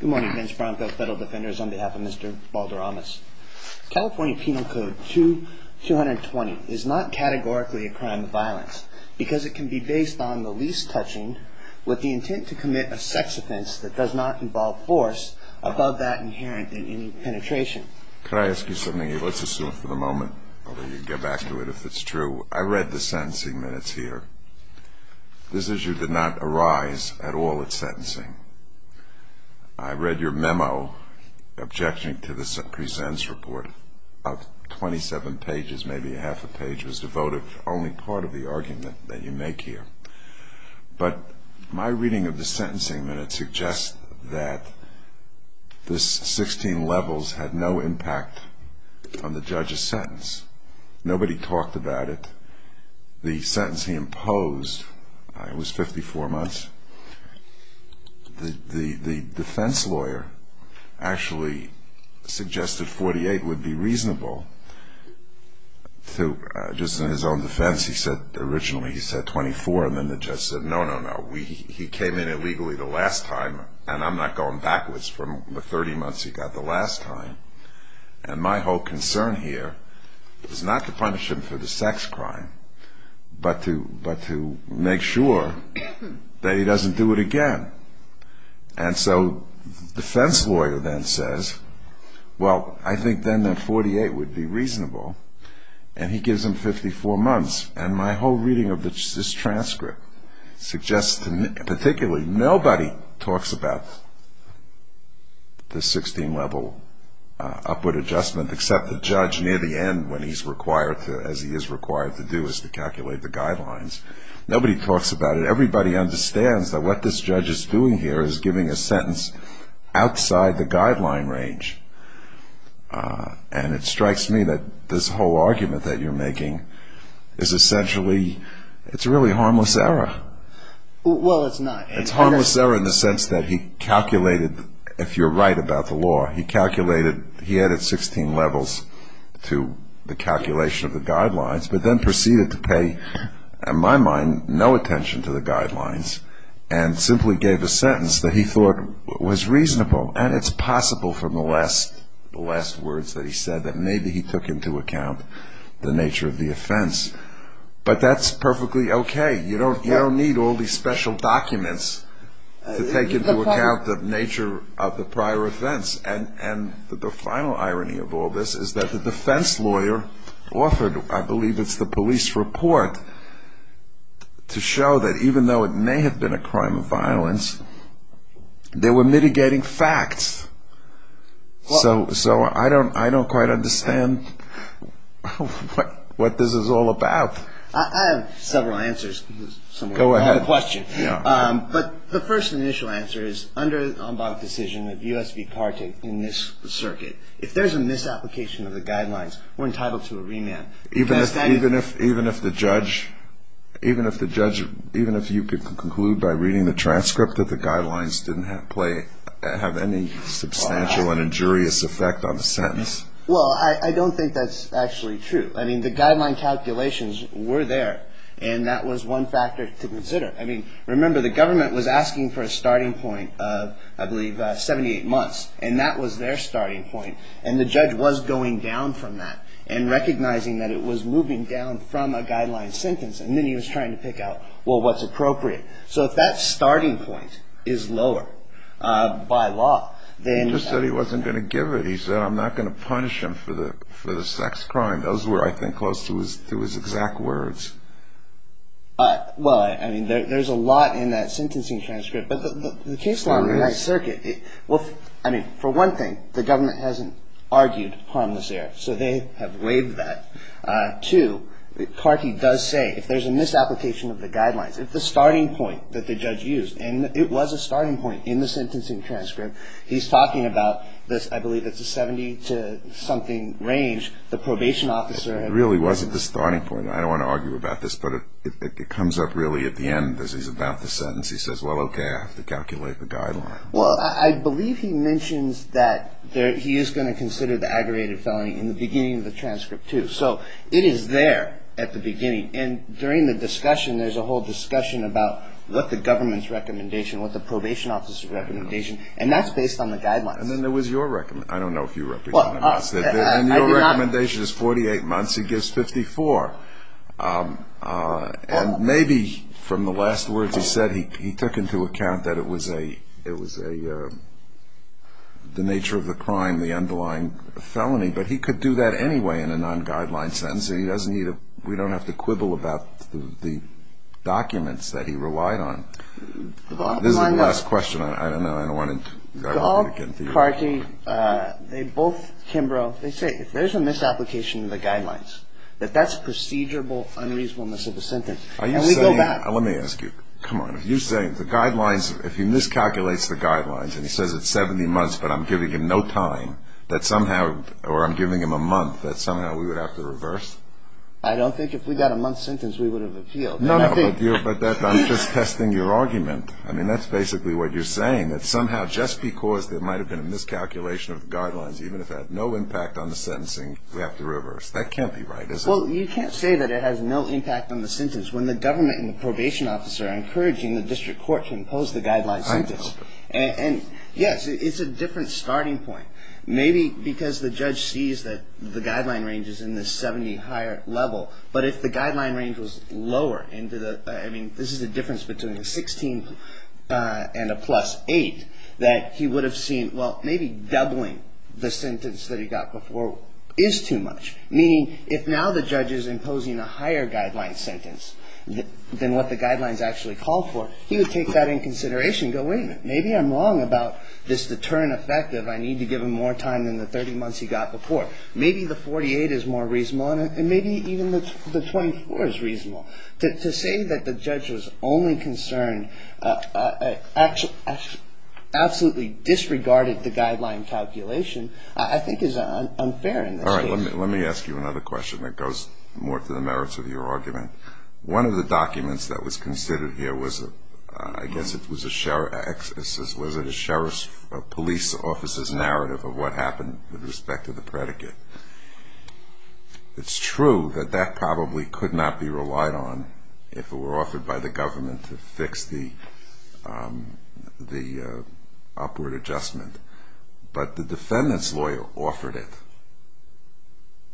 Good morning, Vince Branco, Federal Defenders, on behalf of Mr. Balderamas. California Penal Code 2-220 is not categorically a crime of violence because it can be based on the least touching with the intent to commit a sex offense that does not involve force above that inherent in any penetration. Could I ask you something? Let's assume for the moment, although you can get back to it if it's true. I read the sentencing minutes here. This issue did not arise at all at sentencing. I read your memo objecting to the presentence report. About 27 pages, maybe a half a page, was devoted to only part of the argument that you make here. But my reading of the sentencing minutes suggests that this 16 levels had no impact on the judge's sentence. Nobody talked about it. The sentence he imposed was 54 months. The defense lawyer actually suggested 48 would be reasonable. Just in his own defense, he said, originally he said 24, and then the judge said, no, no, no, he came in illegally the last time, and I'm not going backwards from the 30 months he got the last time. And my whole concern here is not to punish him for the sex crime, but to make sure that he doesn't do it again. And so the defense lawyer then says, well, I think then that 48 would be reasonable, and he gives him 54 months. And my whole reading of this transcript suggests to me particularly nobody talks about the 16 level upward adjustment, except the judge near the end when he's required to, as he is required to do, is to calculate the guidelines. Nobody talks about it. Everybody understands that what this judge is doing here is giving a sentence outside the guideline range. And it strikes me that this whole argument that you're making is essentially, it's really harmless error. Well, it's not. It's harmless error in the sense that he calculated, if you're right about the law, he calculated, he added 16 levels to the calculation of the guidelines, but then proceeded to pay, in my mind, no attention to the guidelines, and simply gave a sentence that he thought was reasonable, and it's possible from the last words that he said that maybe he took into account the nature of the offense. But that's perfectly okay. You don't need all these special documents to take into account the nature of the prior offense. And the final irony of all this is that the defense lawyer offered, I believe it's the police report, they were mitigating facts. So I don't quite understand what this is all about. I have several answers. Go ahead. But the first initial answer is under the decision of U.S. v. Partick in this circuit, if there's a misapplication of the guidelines, we're entitled to a remand. Even if the judge, even if you could conclude by reading the transcript that the guidelines didn't have any substantial and injurious effect on the sentence? Well, I don't think that's actually true. I mean, the guideline calculations were there, and that was one factor to consider. I mean, remember, the government was asking for a starting point of, I believe, 78 months, and that was their starting point, and the judge was going down from that and recognizing that it was moving down from a guideline sentence, and then he was trying to pick out, well, what's appropriate. So if that starting point is lower by law, then you have to be careful. He just said he wasn't going to give it. He said, I'm not going to punish him for the sex crime. Those were, I think, close to his exact words. Well, I mean, there's a lot in that sentencing transcript. But the case law in the High Circuit, well, I mean, for one thing, the government hasn't argued harmless error, so they have waived that. Two, Carkey does say if there's a misapplication of the guidelines, if the starting point that the judge used, and it was a starting point in the sentencing transcript, he's talking about this, I believe it's a 70-something range, the probation officer. It really wasn't the starting point. I don't want to argue about this, but it comes up really at the end as he's about the sentence. He says, well, okay, I have to calculate the guidelines. Well, I believe he mentions that he is going to consider the aggravated felony in the beginning of the transcript, too. So it is there at the beginning. And during the discussion, there's a whole discussion about what the government's recommendation, what the probation officer's recommendation, and that's based on the guidelines. And then there was your recommendation. I don't know if you represented us. And your recommendation is 48 months. He gives 54. And maybe from the last words he said, he took into account that it was the nature of the crime, the underlying felony. But he could do that anyway in a non-guideline sentence. We don't have to quibble about the documents that he relied on. This is the last question. I don't know. I don't want to get into it. Gold, Carkey, they both, Kimbrough, they say if there's a misapplication of the guidelines, that that's procedural unreasonableness of the sentence. And we go back. Let me ask you. Come on. If you say the guidelines, if he miscalculates the guidelines, and he says it's 70 months but I'm giving him no time, that somehow or I'm giving him a month, that somehow we would have to reverse? I don't think if we got a month's sentence we would have appealed. No, no. But I'm just testing your argument. I mean, that's basically what you're saying, that somehow just because there might have been a miscalculation of the guidelines, even if it had no impact on the sentencing, we have to reverse. That can't be right, is it? Well, you can't say that it has no impact on the sentence when the government and the probation officer are encouraging the district court to impose the guidelines on this. And, yes, it's a different starting point. Maybe because the judge sees that the guideline range is in the 70 higher level, but if the guideline range was lower into the, I mean, this is the difference between a 16 and a plus 8, that he would have seen, well, maybe doubling the sentence that he got before is too much. Meaning, if now the judge is imposing a higher guideline sentence than what the guidelines actually call for, he would take that in consideration and go, wait a minute, maybe I'm wrong about this deterrent effective. I need to give him more time than the 30 months he got before. Maybe the 48 is more reasonable, and maybe even the 24 is reasonable. To say that the judge was only concerned, absolutely disregarded the guideline calculation, I think is unfair in this case. All right. Let me ask you another question that goes more to the merits of your argument. One of the documents that was considered here was, I guess it was a sheriff's, was it a sheriff's police officer's narrative of what happened with respect to the predicate. It's true that that probably could not be relied on if it were offered by the government to fix the upward adjustment. But the defendant's lawyer offered it.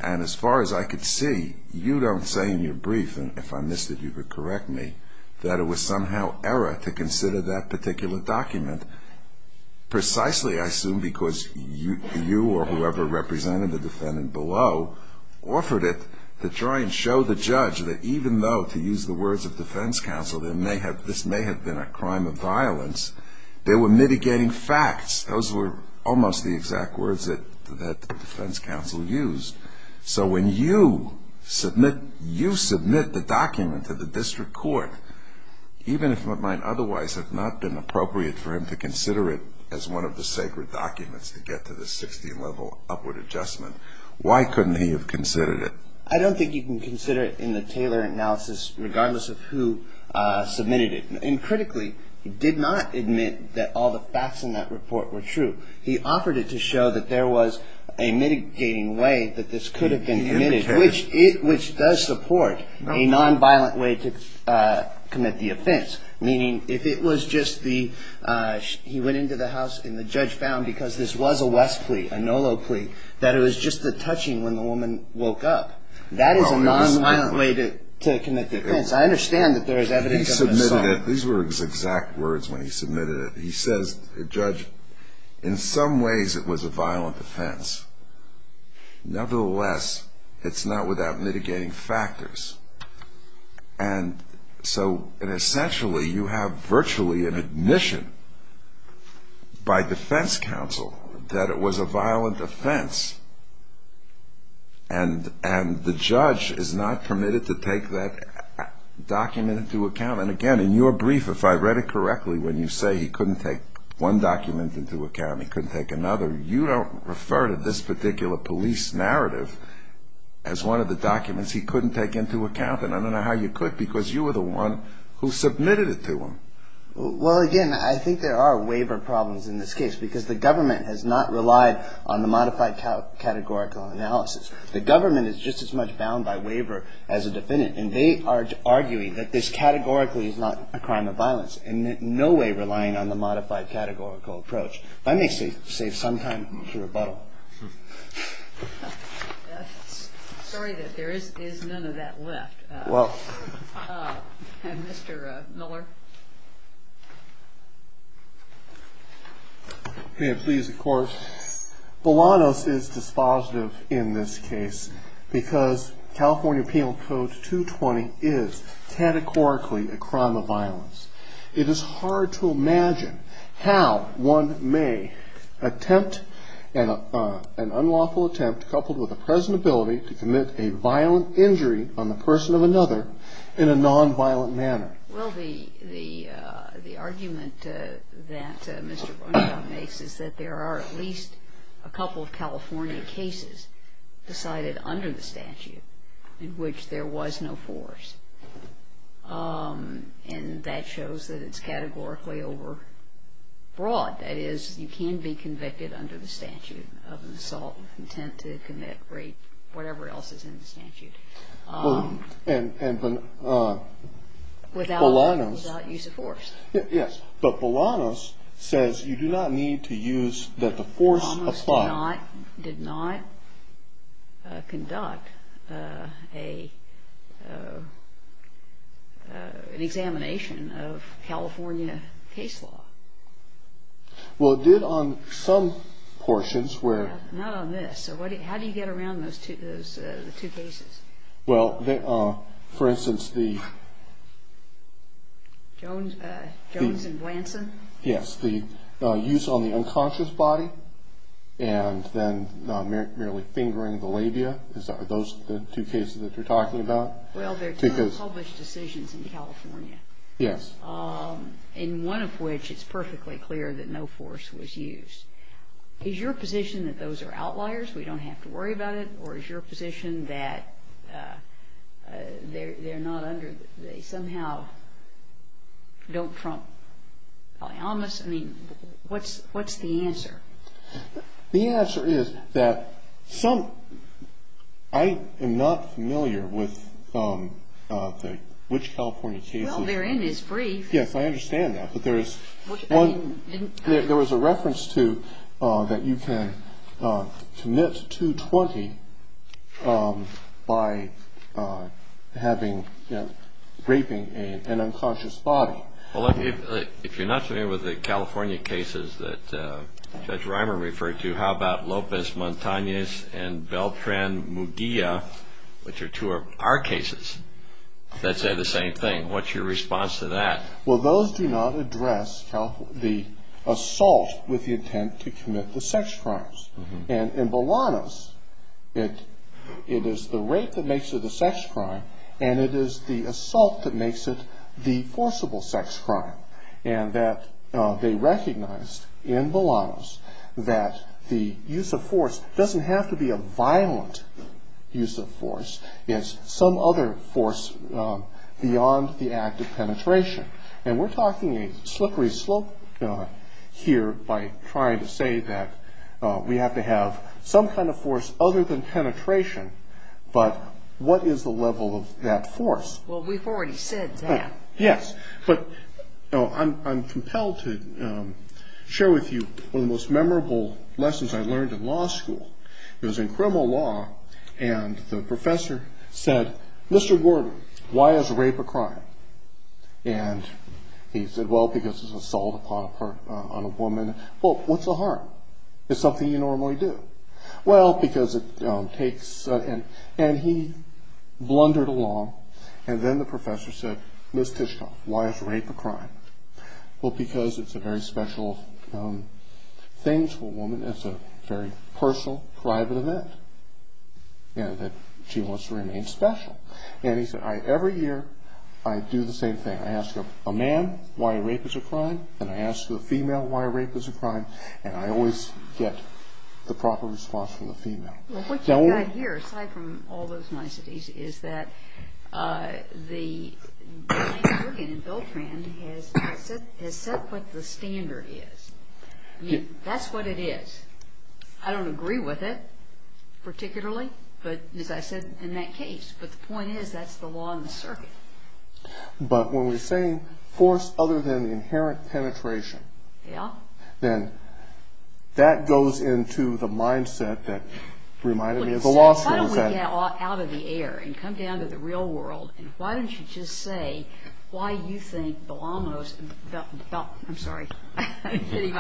And as far as I could see, you don't say in your brief, and if I missed it you could correct me, that it was somehow error to consider that particular document, precisely I assume because you or whoever represented the defendant below offered it to try and show the judge that even though, to use the words of defense counsel, this may have been a crime of violence, they were mitigating facts. Those were almost the exact words that defense counsel used. So when you submit the document to the district court, even if it might otherwise have not been appropriate for him to consider it as one of the sacred documents to get to the 60-level upward adjustment, why couldn't he have considered it? I don't think you can consider it in the Taylor analysis regardless of who submitted it. And critically, he did not admit that all the facts in that report were true. He offered it to show that there was a mitigating way that this could have been committed, which does support a nonviolent way to commit the offense, meaning if it was just he went into the house and the judge found, because this was a West plea, a NOLO plea, that it was just a touching when the woman woke up, that is a nonviolent way to commit the offense. I understand that there is evidence of an assault. He submitted it. These were his exact words when he submitted it. He says, Judge, in some ways it was a violent offense. Nevertheless, it's not without mitigating factors. And so essentially you have virtually an admission by defense counsel that it was a violent offense, and the judge is not permitted to take that document into account. And again, in your brief, if I read it correctly, when you say he couldn't take one document into account, he couldn't take another, you don't refer to this particular police narrative as one of the documents he couldn't take into account, and I don't know how you could because you were the one who submitted it to him. Well, again, I think there are waiver problems in this case because the government has not relied on the modified categorical analysis. The government is just as much bound by waiver as a defendant, and they are arguing that this categorically is not a crime of violence and in no way relying on the modified categorical approach. That may save some time for rebuttal. Sorry that there is none of that left. Mr. Miller? Yes, please, of course. Bolanos is dispositive in this case because California Penal Code 220 is categorically a crime of violence. It is hard to imagine how one may attempt an unlawful attempt coupled with a present ability to commit a violent injury on the person of another in a nonviolent manner. Well, the argument that Mr. Bonner makes is that there are at least a couple of California cases decided under the statute in which there was no force, and that shows that it's categorically over broad. That is, you can be convicted under the statute of an assault with intent to commit rape, whatever else is in the statute. Without use of force. Yes, but Bolanos says you do not need to use the force of five. It did not conduct an examination of California case law. Well, it did on some portions where... Not on this. How do you get around the two cases? Well, for instance, the... And then not merely fingering the labia, are those the two cases that you're talking about? Well, they're two unpublished decisions in California. Yes. And one of which, it's perfectly clear that no force was used. Is your position that those are outliers, we don't have to worry about it? Or is your position that they're not under... They somehow don't trump Balaamis? I mean, what's the answer? The answer is that some... I am not familiar with which California cases... Well, they're in his brief. Yes, I understand that. But there is one... There was a reference to that you can commit 220 by having, you know, raping an unconscious body. Well, if you're not familiar with the California cases that Judge Reimer referred to, how about Lopez Montanez and Beltran Muguia, which are two of our cases, that say the same thing? What's your response to that? Well, those do not address the assault with the intent to commit the sex crimes. And in Balaamis, it is the rape that makes it a sex crime, and it is the assault that makes it the forcible sex crime. And that they recognized in Balaamis that the use of force doesn't have to be a violent use of force. It's some other force beyond the act of penetration. And we're talking a slippery slope here by trying to say that we have to have some kind of force other than penetration, but what is the level of that force? Well, we've already said that. Yes, but I'm compelled to share with you one of the most memorable lessons I learned in law school. It was in criminal law, and the professor said, Mr. Gordon, why is rape a crime? And he said, well, because it's an assault on a woman. Well, what's the harm? It's something you normally do. Well, because it takes, and he blundered along, and then the professor said, Ms. Tishkoff, why is rape a crime? Well, because it's a very special thing to a woman. It's a very personal, private event, and she wants to remain special. And he said, every year I do the same thing. I ask a man why rape is a crime, and I ask a female why rape is a crime, and I always get the proper response from the female. Well, what you've got here, aside from all those niceties, is that the American Indian bill trend has set what the standard is. I mean, that's what it is. I don't agree with it particularly, but as I said, in that case. But the point is that's the law in the circuit. But when we're saying force other than the inherent penetration, then that goes into the mindset that reminded me of the law school. Why don't we get out of the air and come down to the real world, and why don't you just say why you think Belano's – I'm sorry. I'm kidding.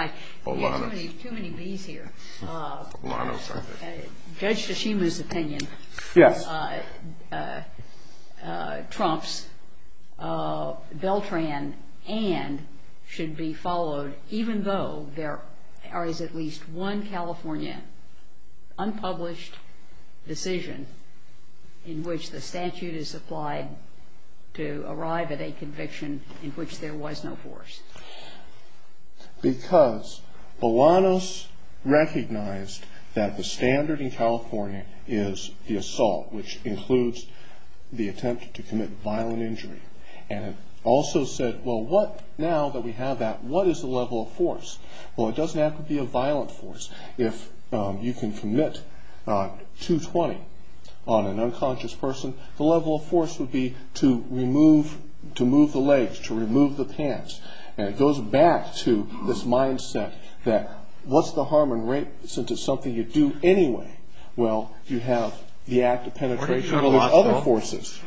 We have too many Bs here. Judge Tashima's opinion trumps Beltran and should be followed, even though there is at least one California unpublished decision in which the statute is applied to arrive at a conviction in which there was no force. Because Belano's recognized that the standard in California is the assault, which includes the attempt to commit violent injury, and it also said, well, now that we have that, what is the level of force? Well, it doesn't have to be a violent force. If you can commit 220 on an unconscious person, the level of force would be to move the legs, to remove the pants. And it goes back to this mindset that what's the harm in rape, since it's something you do anyway? Well, you have the act of penetration with other forces.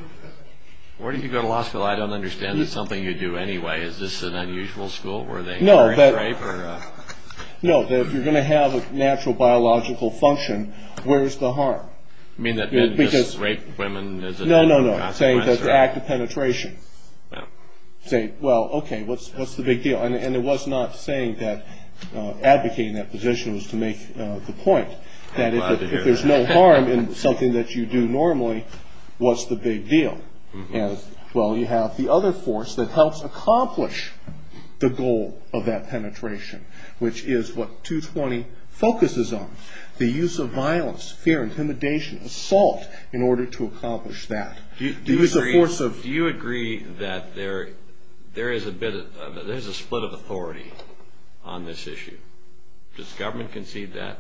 Where did you go to law school? I don't understand it's something you do anyway. Is this an unusual school? No, that if you're going to have a natural biological function, where is the harm? You mean that just rape women is enough? No, no, no, I'm saying the act of penetration. Say, well, okay, what's the big deal? And it was not saying that advocating that position was to make the point that if there's no harm in something that you do normally, what's the big deal? Well, you have the other force that helps accomplish the goal of that penetration, which is what 220 focuses on, the use of violence, fear, intimidation, assault, in order to accomplish that. Do you agree that there is a split of authority on this issue? Does government concede that?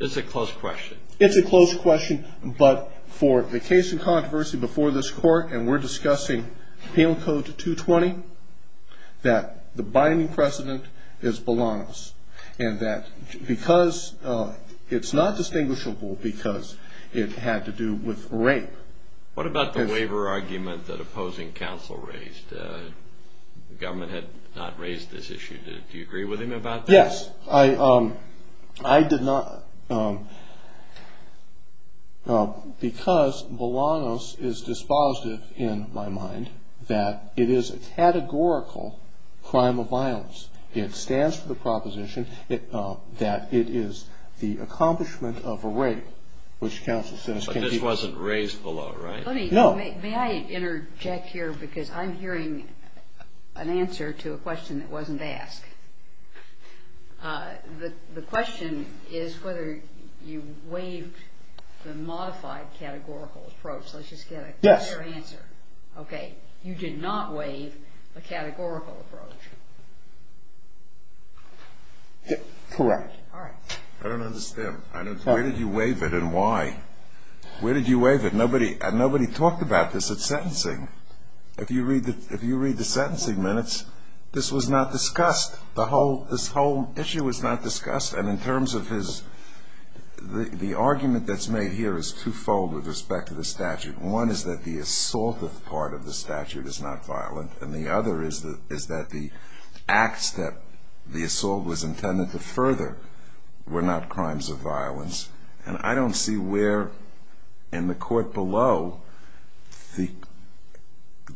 It's a close question. It's a close question, but for the case in controversy before this court, and we're discussing Penal Code 220, that the binding precedent is Bolanos, and that because it's not distinguishable because it had to do with rape. What about the waiver argument that opposing counsel raised? The government had not raised this issue. Do you agree with him about that? Yes. I did not. Because Bolanos is dispositive in my mind that it is a categorical crime of violence. It stands for the proposition that it is the accomplishment of a rape, which counsel says can be. But this wasn't raised below, right? No. May I interject here because I'm hearing an answer to a question that wasn't asked. The question is whether you waived the modified categorical approach. Let's just get a clear answer. Yes. Okay. You did not waive a categorical approach. Correct. All right. I don't understand. Where did you waive it and why? Where did you waive it? Nobody talked about this at sentencing. If you read the sentencing minutes, this was not discussed. This whole issue was not discussed. And in terms of his – the argument that's made here is two-fold with respect to the statute. One is that the assault part of the statute is not violent, and the other is that the acts that the assault was intended to further were not crimes of violence. And I don't see where in the court below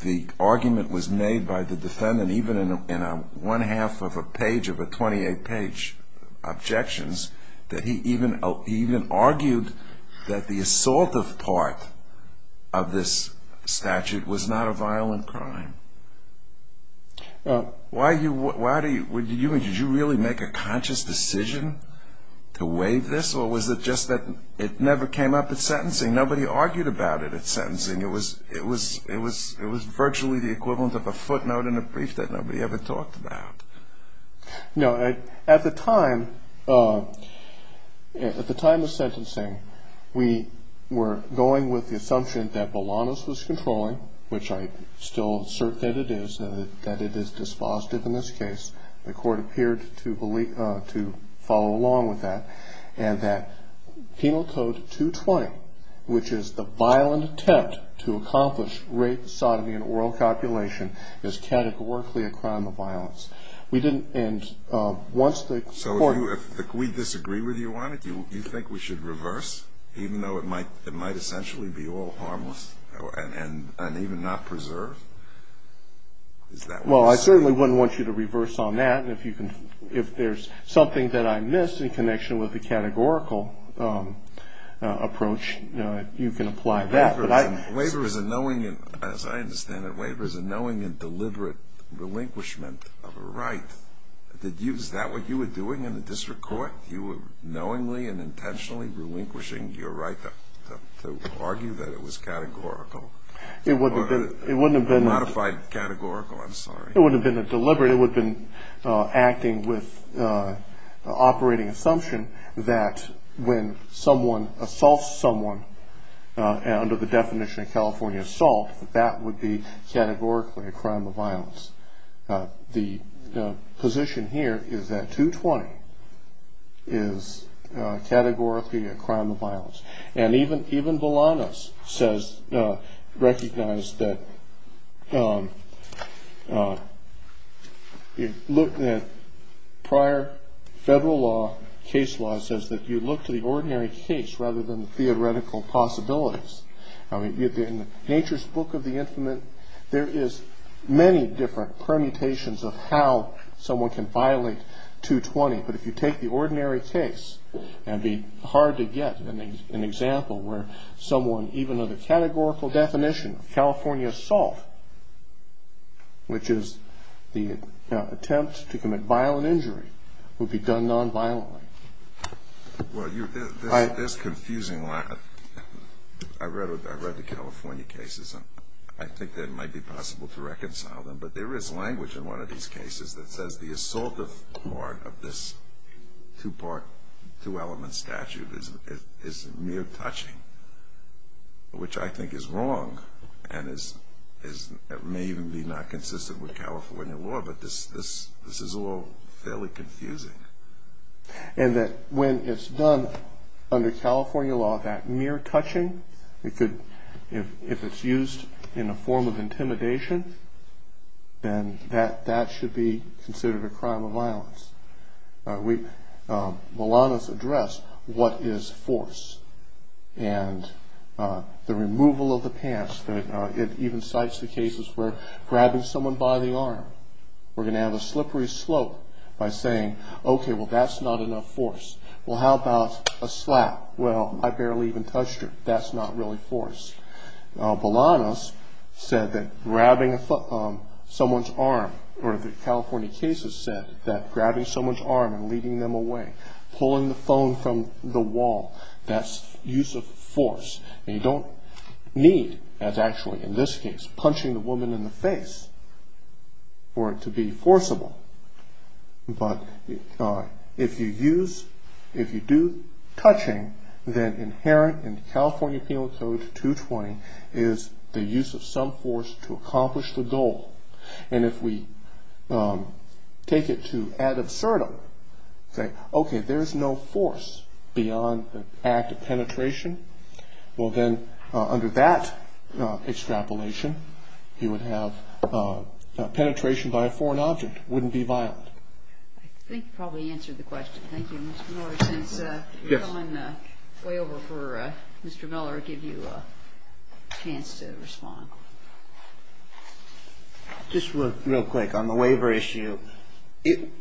the argument was made by the defendant, even in a one-half of a page of a 28-page objections, that he even argued that the assaultive part of this statute was not a violent crime. Why do you – did you really make a conscious decision to waive this or was it just that it never came up at sentencing? Nobody argued about it at sentencing. It was virtually the equivalent of a footnote in a brief that nobody ever talked about. No. At the time of sentencing, we were going with the assumption that Bolanos was controlling, which I still assert that it is, that it is dispositive in this case. The court appeared to believe – to follow along with that, and that Penal Code 220, which is the violent attempt to accomplish rape, sodomy, and oral copulation, is categorically a crime of violence. We didn't – and once the court – So if we disagree with you on it, do you think we should reverse, even though it might essentially be all harmless and even not preserved? Is that what you're saying? Well, I certainly wouldn't want you to reverse on that. And if you can – if there's something that I missed in connection with the categorical approach, you can apply that. But I – Waiver is a knowing – as I understand it, waiver is a knowing and deliberate relinquishment of a right. Did you – is that what you were doing in the district court? You were knowingly and intentionally relinquishing your right to argue that it was categorical? It wouldn't have been – Or modified categorical, I'm sorry. It wouldn't have been deliberate. It would have been acting with operating assumption that when someone assaults someone, under the definition of California assault, that that would be categorically a crime of violence. The position here is that 220 is categorically a crime of violence. And even Volanos says – recognized that prior federal law, case law, says that you look to the ordinary case rather than the theoretical possibilities. I mean, in nature's book of the infinite, there is many different permutations of how someone can violate 220. But if you take the ordinary case, it would be hard to get an example where someone, even under the categorical definition of California assault, which is the attempt to commit violent injury, would be done nonviolently. Well, this confusing – I read the California cases, and I think that it might be possible to reconcile them. But there is language in one of these cases that says the assaultive part of this two-part, two-element statute is mere touching, which I think is wrong and may even be not consistent with California law. But this is all fairly confusing. And that when it's done under California law, that mere touching, if it's used in a form of intimidation, then that should be considered a crime of violence. Volanos addressed what is force. And the removal of the pants, it even cites the cases where grabbing someone by the arm, we're going to have a slippery slope by saying, okay, well, that's not enough force. Well, how about a slap? Well, I barely even touched her. That's not really force. Volanos said that grabbing someone's arm, or the California cases said that grabbing someone's arm and leading them away, pulling the phone from the wall, that's use of force. And you don't need, as actually in this case, punching the woman in the face for it to be forcible. But if you use, if you do touching, then inherent in California Penal Code 220 is the use of some force to accomplish the goal. And if we take it to ad absurdum, say, okay, there is no force beyond the act of penetration, well, then under that extrapolation, you would have penetration by a foreign object. That would be a violation. I think you probably answered the question. Thank you. Mr. Miller, since you're coming way over for Mr. Miller, I'll give you a chance to respond. Just real quick. On the waiver issue,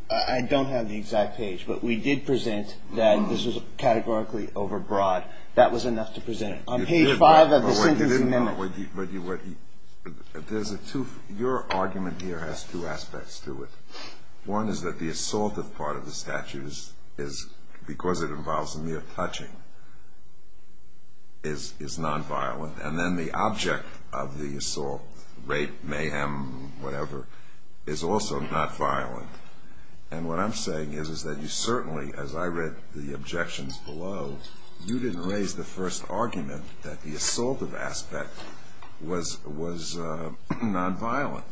I don't have the exact page, but we did present that this was categorically overbroad. That was enough to present it. On page 5 of the sentence amendment. Your argument here has two aspects to it. One is that the assaultive part of the statute, because it involves the mere touching, is nonviolent. And then the object of the assault, rape, mayhem, whatever, is also not violent. And what I'm saying is that you certainly, as I read the objections below, you didn't raise the first argument that the assaultive aspect was nonviolent.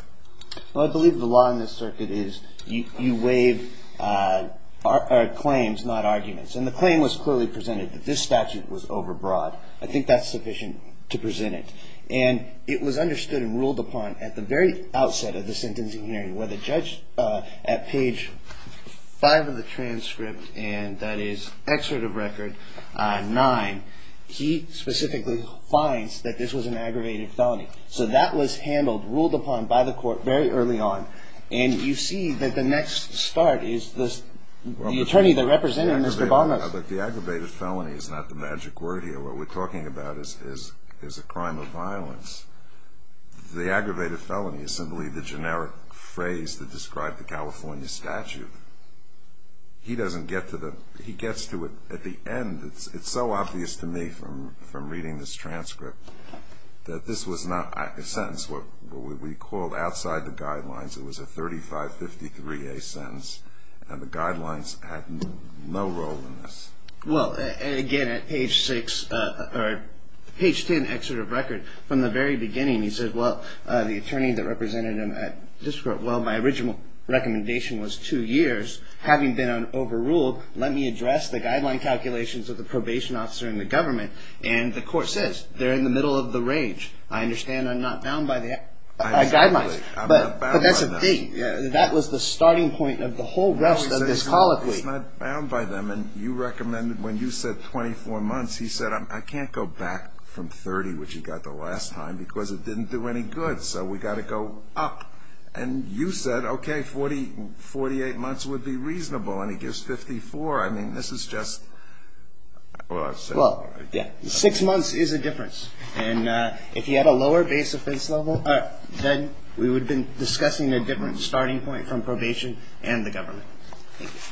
Well, I believe the law in this circuit is you waive claims, not arguments. And the claim was clearly presented that this statute was overbroad. I think that's sufficient to present it. And it was understood and ruled upon at the very outset of the sentencing hearing, where the judge at page 5 of the transcript, and that is excerpt of record 9, he specifically finds that this was an aggravated felony. So that was handled, ruled upon by the court very early on. And you see that the next start is the attorney that represented Mr. Bonner. But the aggravated felony is not the magic word here. What we're talking about is a crime of violence. The aggravated felony is simply the generic phrase that described the California statute. He doesn't get to the – he gets to it at the end. It's so obvious to me from reading this transcript that this was not a sentence. What we called outside the guidelines, it was a 3553A sentence, and the guidelines had no role in this. Well, again, at page 6 – or page 10, excerpt of record, from the very beginning he said, well, the attorney that represented him at district court, well, my original recommendation was two years. Having been overruled, let me address the guideline calculations of the probation officer in the government. And the court says, they're in the middle of the range. I understand I'm not bound by the guidelines. But that's a thing. That was the starting point of the whole rest of this colloquy. Well, he's not bound by them, and you recommended when you said 24 months, he said, I can't go back from 30, which he got the last time, because it didn't do any good. So we've got to go up. And you said, okay, 48 months would be reasonable, and he gives 54. I mean, this is just – well, I've said it already. Well, yeah, six months is a difference. And if he had a lower base offense level, then we would have been discussing a different starting point from probation and the government.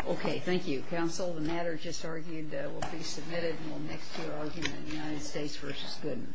Okay, thank you. Counsel, the matter just argued will be submitted and will next hear argument in the United States v. Goodman. Thank you.